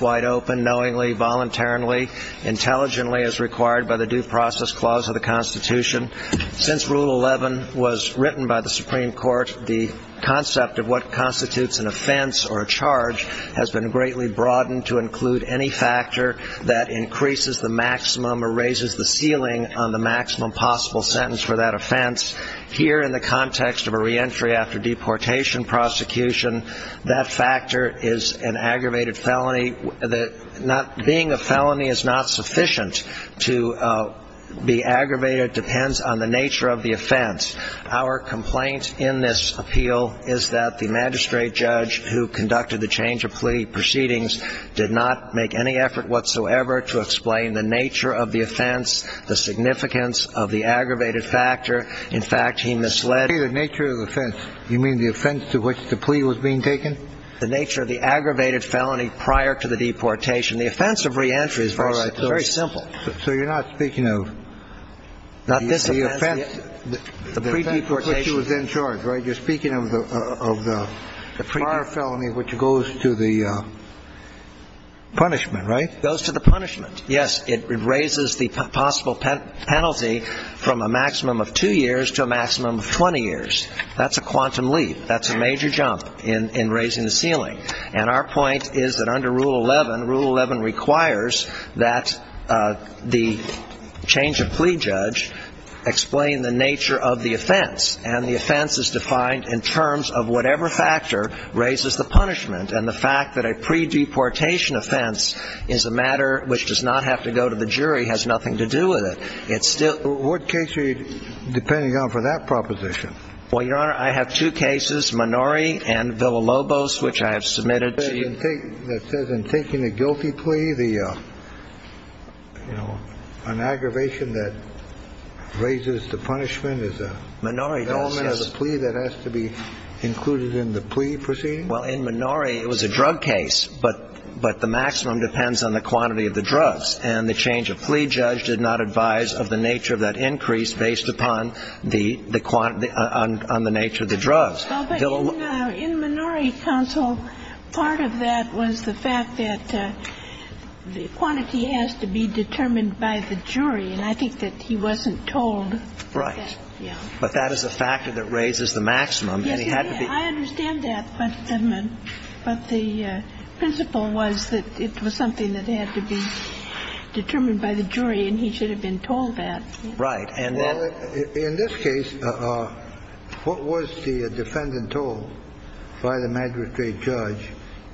knowingly, voluntarily, intelligently as required by the Due Process Clause of the Constitution. Since Rule 11 was written by the Supreme Court, the concept of what constitutes an offense or a charge has been greatly broadened to include any factor that increases the maximum or raises the ceiling on the maximum possible sentence for that offense. Here, in the context of a reentry after deportation prosecution, that factor is an aggravated felony. Being a felony is not sufficient to be aggravated. It depends on the nature of the offense. Our complaint in this appeal is that the magistrate judge who conducted the change of plea proceedings did not make any effort whatsoever to explain the nature of the offense, the significance of the aggravated factor. In fact, he misled... You say the nature of the offense. You mean the offense to which the plea was being taken? The nature of the aggravated felony prior to the deportation. The offense of reentry is very simple. So you're not speaking of... Not this offense... The pre-deportation... The offense for which he was in charge, right? You're speaking of the prior felony which goes to the punishment, right? Yes, it raises the possible penalty from a maximum of two years to a maximum of 20 years. That's a quantum leap. That's a major jump in raising the ceiling. And our point is that under Rule 11, Rule 11 requires that the change of plea judge explain the nature of the offense. And the offense is defined in terms of whatever factor raises the punishment. And the fact that a pre-deportation offense is a matter which does not have to go to the jury has nothing to do with it. It's still... What case are you depending on for that proposition? Well, Your Honor, I have two cases, Minori and Villalobos, which I have submitted to you. That says in taking a guilty plea, the, you know, an aggravation that raises the punishment is a... Minori does, yes. Element of the plea that has to be included in the plea proceeding? Well, in Minori, it was a drug case, but the maximum depends on the quantity of the drugs. And the change of plea judge did not advise of the nature of that increase based upon the quantity, on the nature of the drugs. Well, but in Minori, counsel, part of that was the fact that the quantity has to be determined by the jury. And I think that he wasn't told. Right. Yeah. But that is a factor that raises the maximum. I understand that, but the principle was that it was something that had to be determined by the jury and he should have been told that. Right. And in this case, what was the defendant told by the magistrate judge?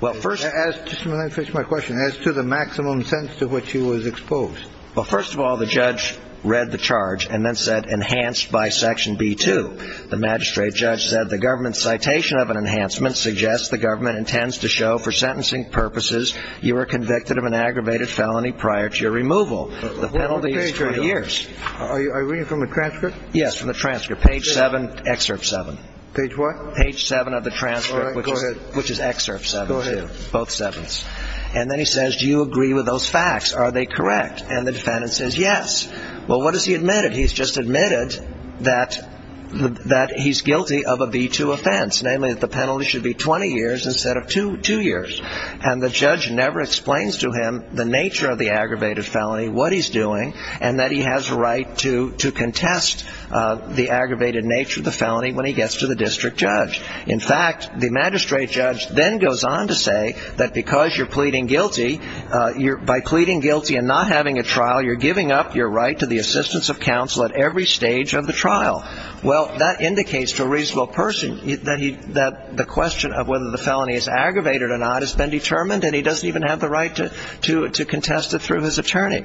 Well, first... Let me finish my question. As to the maximum sentence to which he was exposed. Well, first of all, the judge read the charge and then said enhanced by Section B-2. The magistrate judge said the government citation of an enhancement suggests the government intends to show for sentencing purposes you were convicted of an aggravated felony prior to your removal. The penalty is 30 years. Are you reading from the transcript? Yes, from the transcript. Page 7, excerpt 7. Page what? Page 7 of the transcript. All right. Go ahead. Which is excerpt 7, too. Go ahead. Both 7s. And then he says, do you agree with those facts? Are they correct? And the defendant says yes. Well, what has he admitted? He's just admitted that he's guilty of a B-2 offense, namely that the penalty should be 20 years instead of two years. And the judge never explains to him the nature of the aggravated felony, what he's doing, and that he has a right to contest the aggravated nature of the felony when he gets to the district judge. In fact, the magistrate judge then goes on to say that because you're pleading guilty, by pleading guilty and not having a trial, you're giving up your right to the assistance of counsel at every stage of the trial. Well, that indicates to a reasonable person that the question of whether the felony is aggravated or not has been determined, and he doesn't even have the right to contest it through his attorney.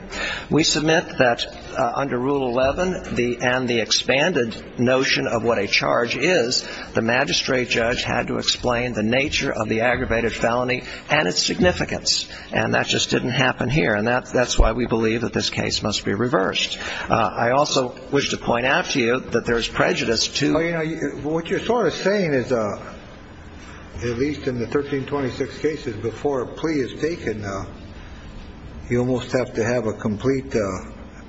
We submit that under Rule 11 and the expanded notion of what a charge is, the magistrate judge had to explain the nature of the aggravated felony and its significance, and that just didn't happen here. And that's why we believe that this case must be reversed. I also wish to point out to you that there is prejudice to. What you're sort of saying is, at least in the 1326 cases before a plea is taken, you almost have to have a complete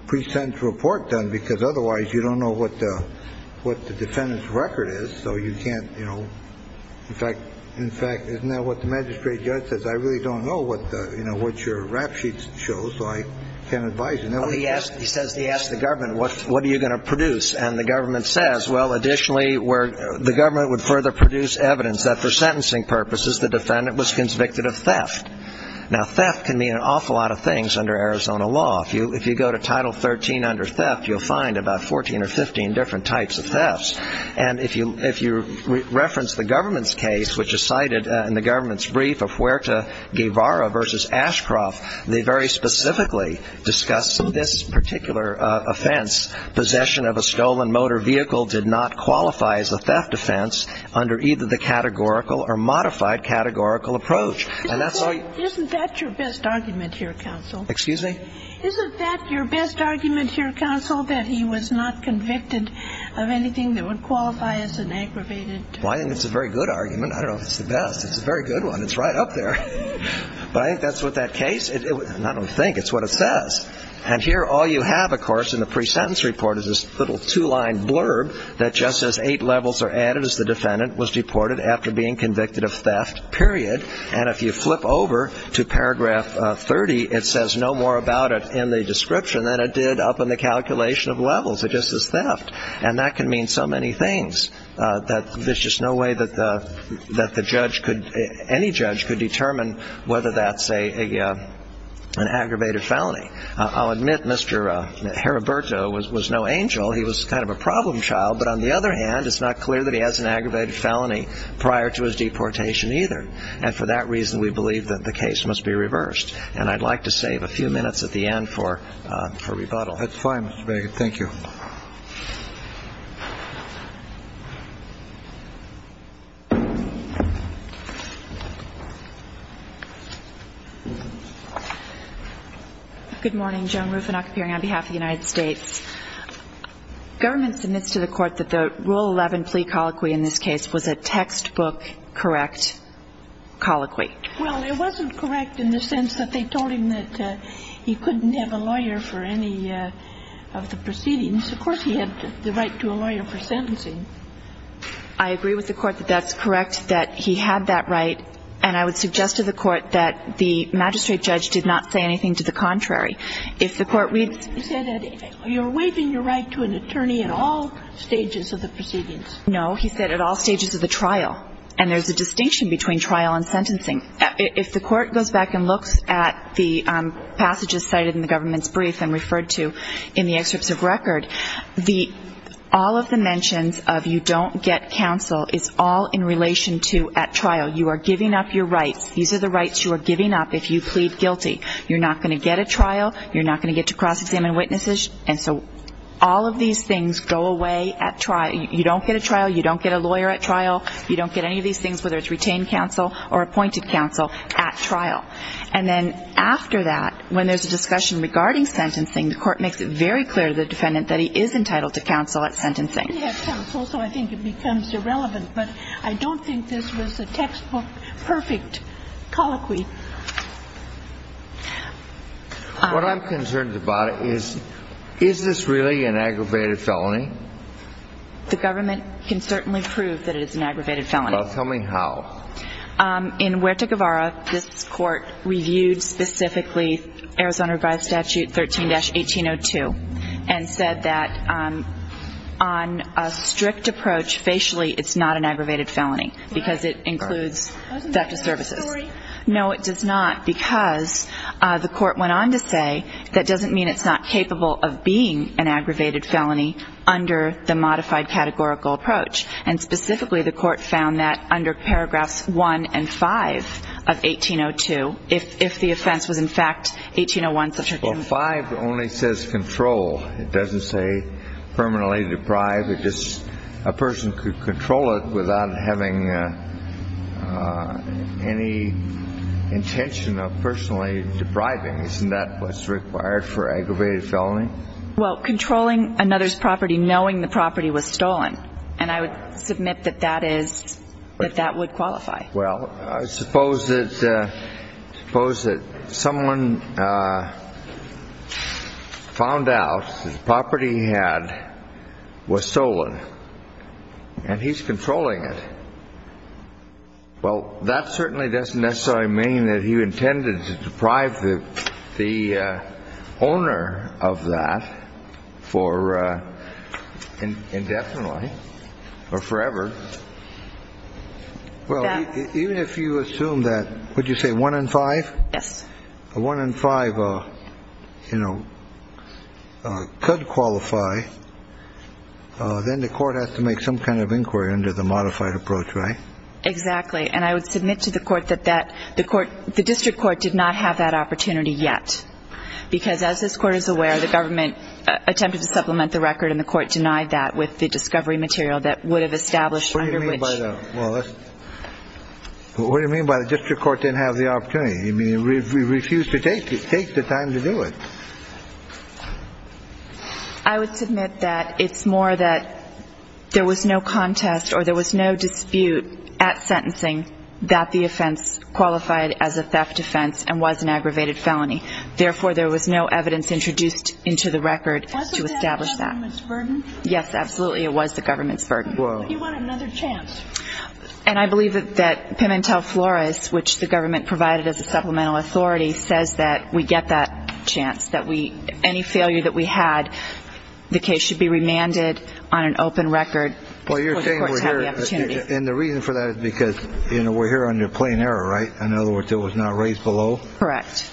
pre-sentence report done, because otherwise you don't know what the defendant's record is, so you can't, you know. In fact, isn't that what the magistrate judge says? I really don't know what, you know, what your rap sheets show, so I can't advise you. He says he asked the government, what are you going to produce? And the government says, well, additionally, the government would further produce evidence that for sentencing purposes the defendant was convicted of theft. Now, theft can mean an awful lot of things under Arizona law. If you go to Title 13 under theft, you'll find about 14 or 15 different types of thefts. And if you reference the government's case, which is cited in the government's brief of Huerta Guevara v. Ashcroft, they very specifically discuss this particular offense. Possession of a stolen motor vehicle did not qualify as a theft offense under either the categorical or modified categorical approach. And that's all you need. Isn't that your best argument here, counsel? Excuse me? Isn't that your best argument here, counsel, that he was not convicted of anything that would qualify as an aggravated theft? Well, I think it's a very good argument. I don't know if it's the best. It's a very good one. It's right up there. But I think that's what that case, and I don't think, it's what it says. And here all you have, of course, in the pre-sentence report is this little two-line blurb that just says eight levels are added as the defendant was deported after being convicted of theft, period. And if you flip over to paragraph 30, it says no more about it in the description than it did up in the calculation of levels. It just says theft. And that can mean so many things. There's just no way that the judge could, any judge could determine whether that's an aggravated felony. I'll admit Mr. Heriberto was no angel. He was kind of a problem child. But on the other hand, it's not clear that he has an aggravated felony prior to his deportation either. And for that reason, we believe that the case must be reversed. And I'd like to save a few minutes at the end for rebuttal. That's fine, Mr. Baggett. Thank you. Good morning. Joan Rufinock appearing on behalf of the United States. Government submits to the Court that the Rule 11 plea colloquy in this case was a textbook correct colloquy. Well, it wasn't correct in the sense that they told him that he couldn't have a lawyer for any of the proceedings. Of course, he had the right to a lawyer for sentencing. I agree with the Court that that's correct, that he had that right. And I would suggest to the Court that the magistrate judge did not say anything to the contrary. He said that you're waiving your right to an attorney at all stages of the proceedings. No, he said at all stages of the trial. And there's a distinction between trial and sentencing. If the Court goes back and looks at the passages cited in the government's brief and referred to in the excerpts of record, all of the mentions of you don't get counsel is all in relation to at trial. You are giving up your rights. These are the rights you are giving up if you plead guilty. You're not going to get a trial. You're not going to get to cross-examine witnesses. And so all of these things go away at trial. You don't get a trial. You don't get a lawyer at trial. You don't get any of these things, whether it's retained counsel or appointed counsel, at trial. And then after that, when there's a discussion regarding sentencing, the Court makes it very clear to the defendant that he is entitled to counsel at sentencing. I did have counsel, so I think it becomes irrelevant. But I don't think this was a textbook perfect colloquy. What I'm concerned about is, is this really an aggravated felony? The government can certainly prove that it is an aggravated felony. Well, tell me how. In Huerta Guevara, this Court reviewed specifically Arizona Revised Statute 13-1802 and said that on a strict approach, facially, it's not an aggravated felony because it includes effective services. No, it does not, because the Court went on to say, that doesn't mean it's not capable of being an aggravated felony under the modified categorical approach. And specifically, the Court found that under paragraphs 1 and 5 of 1802, if the offense was, in fact, 1801. Well, 5 only says control. It doesn't say permanently deprived. A person could control it without having any intention of personally depriving. Isn't that what's required for aggravated felony? Well, controlling another's property, knowing the property was stolen. And I would submit that that is, that that would qualify. Well, I suppose that someone found out that the property he had was stolen, and he's controlling it. Well, that certainly doesn't necessarily mean that he intended to deprive the owner of that for indefinitely or forever. Well, even if you assume that, would you say 1 and 5? Yes. A 1 and 5, you know, could qualify, then the Court has to make some kind of inquiry under the modified approach, right? Exactly. And I would submit to the Court that the District Court did not have that opportunity yet, because as this Court is aware, the government attempted to supplement the record, and the Court denied that with the discovery material that would have established under which. What do you mean by that? Well, what do you mean by the District Court didn't have the opportunity? You mean it refused to take the time to do it? I would submit that it's more that there was no contest or there was no dispute at sentencing that the offense qualified as a theft offense and was an aggravated felony. Therefore, there was no evidence introduced into the record to establish that. Was that the government's burden? Yes, absolutely. It was the government's burden. Well, do you want another chance? And I believe that Pimentel-Flores, which the government provided as a supplemental authority, says that we get that chance, that any failure that we had, the case should be remanded on an open record. Well, you're saying we're here, and the reason for that is because we're here under plain error, right? In other words, it was not raised below? Correct.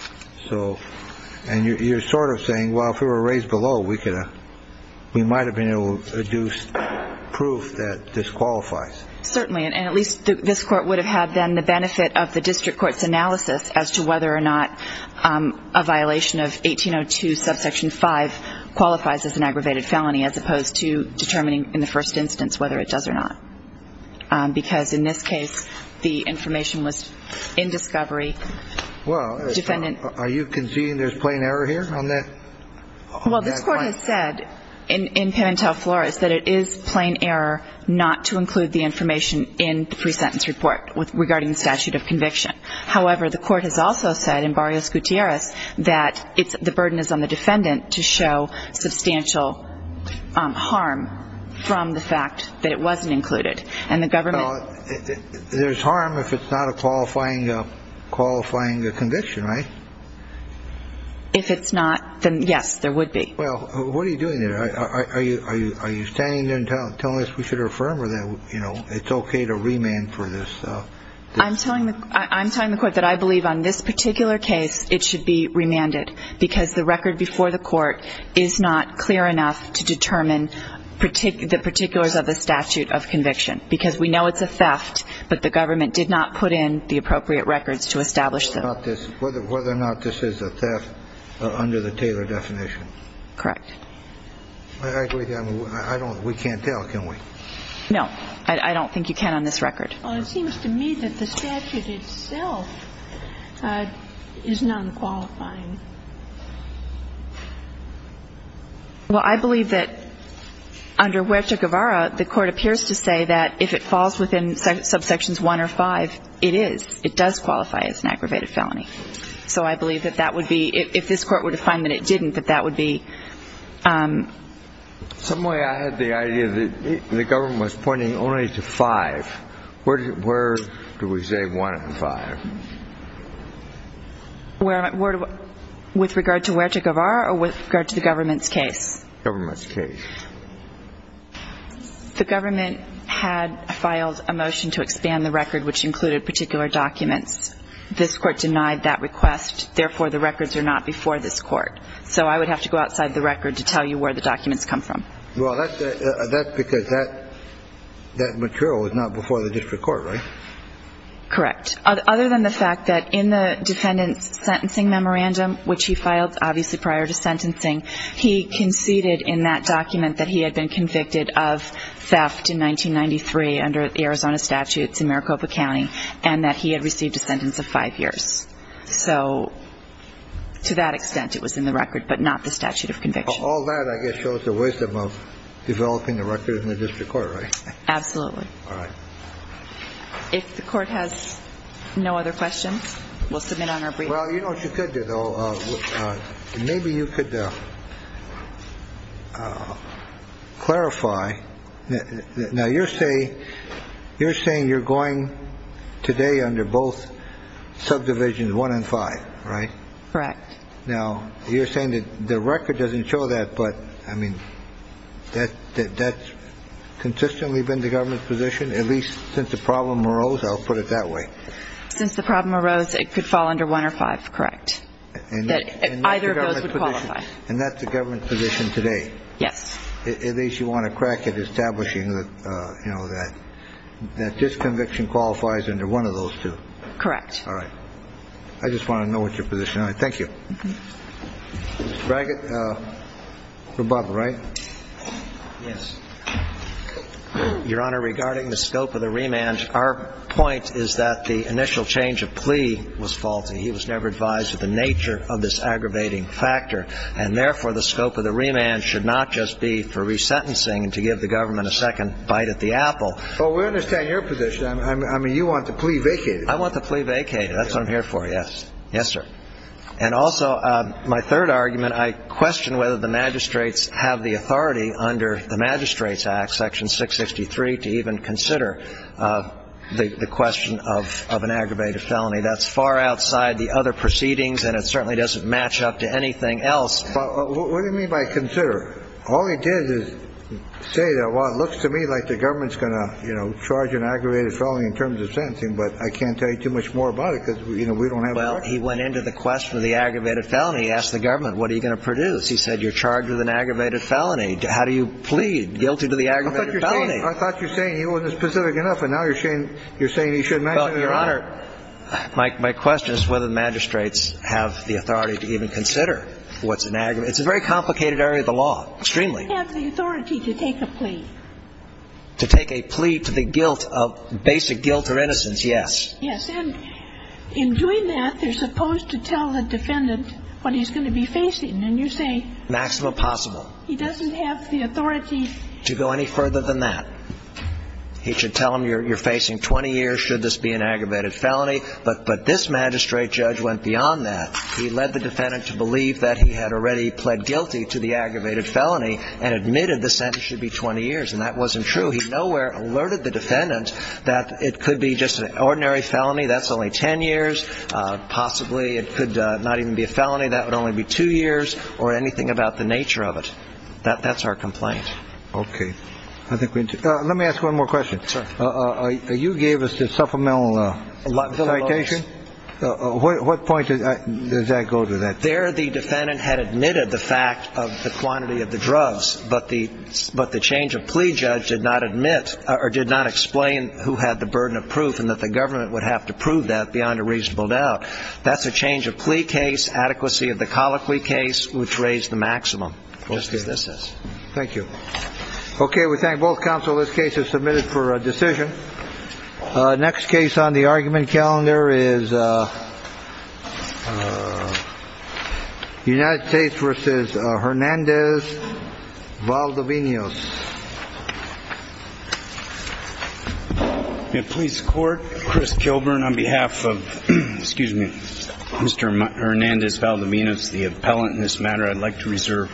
And you're sort of saying, well, if it were raised below, we might have been able to deduce proof that disqualifies. Certainly, and at least this Court would have had then the benefit of the District Court's analysis as to whether or not a violation of 1802 subsection 5 qualifies as an aggravated felony as opposed to determining in the first instance whether it does or not, because in this case the information was in discovery. Well, are you conceding there's plain error here on that point? Well, this Court has said in Pimentel-Flores that it is plain error not to include the information in the pre-sentence report regarding the statute of conviction. However, the Court has also said in Barrios-Gutierrez that the burden is on the defendant to show substantial harm from the fact that it wasn't included. Well, there's harm if it's not a qualifying conviction, right? If it's not, then yes, there would be. Well, what are you doing there? Are you standing there and telling us we should affirm or that it's okay to remand for this? I'm telling the Court that I believe on this particular case it should be remanded because the record before the Court is not clear enough to determine the particulars of the statute of conviction, because we know it's a theft, but the government did not put in the appropriate records to establish them. Whether or not this is a theft under the Taylor definition? Correct. I believe that. We can't tell, can we? No. I don't think you can on this record. Well, it seems to me that the statute itself is non-qualifying. Well, I believe that under Huerta-Guevara, the Court appears to say that if it falls within subsections 1 or 5, it is. It does qualify as an aggravated felony. So I believe that that would be, if this Court were to find that it didn't, that that would be. Some way I had the idea that the government was pointing only to 5. Where do we say 1 and 5? With regard to Huerta-Guevara or with regard to the government's case? Government's case. The government had filed a motion to expand the record, which included particular documents. This Court denied that request. Therefore, the records are not before this Court. So I would have to go outside the record to tell you where the documents come from. Well, that's because that material was not before the district court, right? Correct. Other than the fact that in the defendant's sentencing memorandum, which he filed obviously prior to sentencing, he conceded in that document that he had been convicted of theft in 1993 under Arizona statutes in Maricopa County and that he had received a sentence of 5 years. So to that extent, it was in the record, but not the statute of conviction. All that, I guess, shows the wisdom of developing the record in the district court, right? Absolutely. All right. If the Court has no other questions, we'll submit on our brief. Well, you know what you could do, though? Maybe you could clarify. Now, you're saying you're going today under both subdivisions, 1 and 5, right? Correct. Now, you're saying that the record doesn't show that, but, I mean, that's consistently been the government's position, at least since the problem arose? I'll put it that way. Since the problem arose, it could fall under 1 or 5, correct, that either of those would qualify. And that's the government's position today? Yes. At least you want to crack at establishing that, you know, that this conviction qualifies under one of those two? Correct. All right. I just want to know what your position is. Thank you. Mr. Brackett, for Bob, right? Yes. Your Honor, regarding the scope of the remand, our point is that the initial change of plea was faulty. He was never advised of the nature of this aggravating factor, and, therefore, the scope of the remand should not just be for resentencing and to give the government a second bite at the apple. Well, we understand your position. I mean, you want the plea vacated. I want the plea vacated. That's what I'm here for, yes. Yes, sir. And also, my third argument, I question whether the magistrates have the authority under the Magistrates Act, Section 663, to even consider the question of an aggravated felony. That's far outside the other proceedings, and it certainly doesn't match up to anything else. What do you mean by consider? All he did is say that, well, it looks to me like the government's going to, you know, charge an aggravated felony in terms of sentencing, but I can't tell you too much more about it because, you know, we don't have a record. Well, he went into the question of the aggravated felony. He asked the government, what are you going to produce? He said you're charged with an aggravated felony. How do you plead guilty to the aggravated felony? I thought you were saying he wasn't specific enough, and now you're saying he should mention it again. Well, Your Honor, my question is whether the magistrates have the authority to even consider what's an aggravated felony. It's a very complicated area of the law, extremely. They have the authority to take a plea. To take a plea to the guilt of basic guilt or innocence, yes. Yes. And in doing that, they're supposed to tell the defendant what he's going to be facing. And you say he doesn't have the authority to go any further than that. He should tell him you're facing 20 years should this be an aggravated felony. But this magistrate judge went beyond that. He led the defendant to believe that he had already pled guilty to the aggravated felony and admitted the sentence should be 20 years. And that wasn't true. He nowhere alerted the defendant that it could be just an ordinary felony. That's only 10 years. Possibly it could not even be a felony. That would only be two years or anything about the nature of it. That's our complaint. Okay. Let me ask one more question. You gave us the supplemental citation. What point does that go to? There the defendant had admitted the fact of the quantity of the drugs, but the change of plea judge did not admit or did not explain who had the burden of proof and that the government would have to prove that beyond a reasonable doubt. That's a change of plea case, adequacy of the colloquy case, which raised the maximum. Thank you. Okay. We thank both counsel. This case is submitted for a decision. Next case on the argument calendar is United States versus Hernandez Valdivinos. Police court. Chris Kilburn on behalf of excuse me, Mr. Hernandez Valdivinos, the appellant in this matter. I'd like to reserve.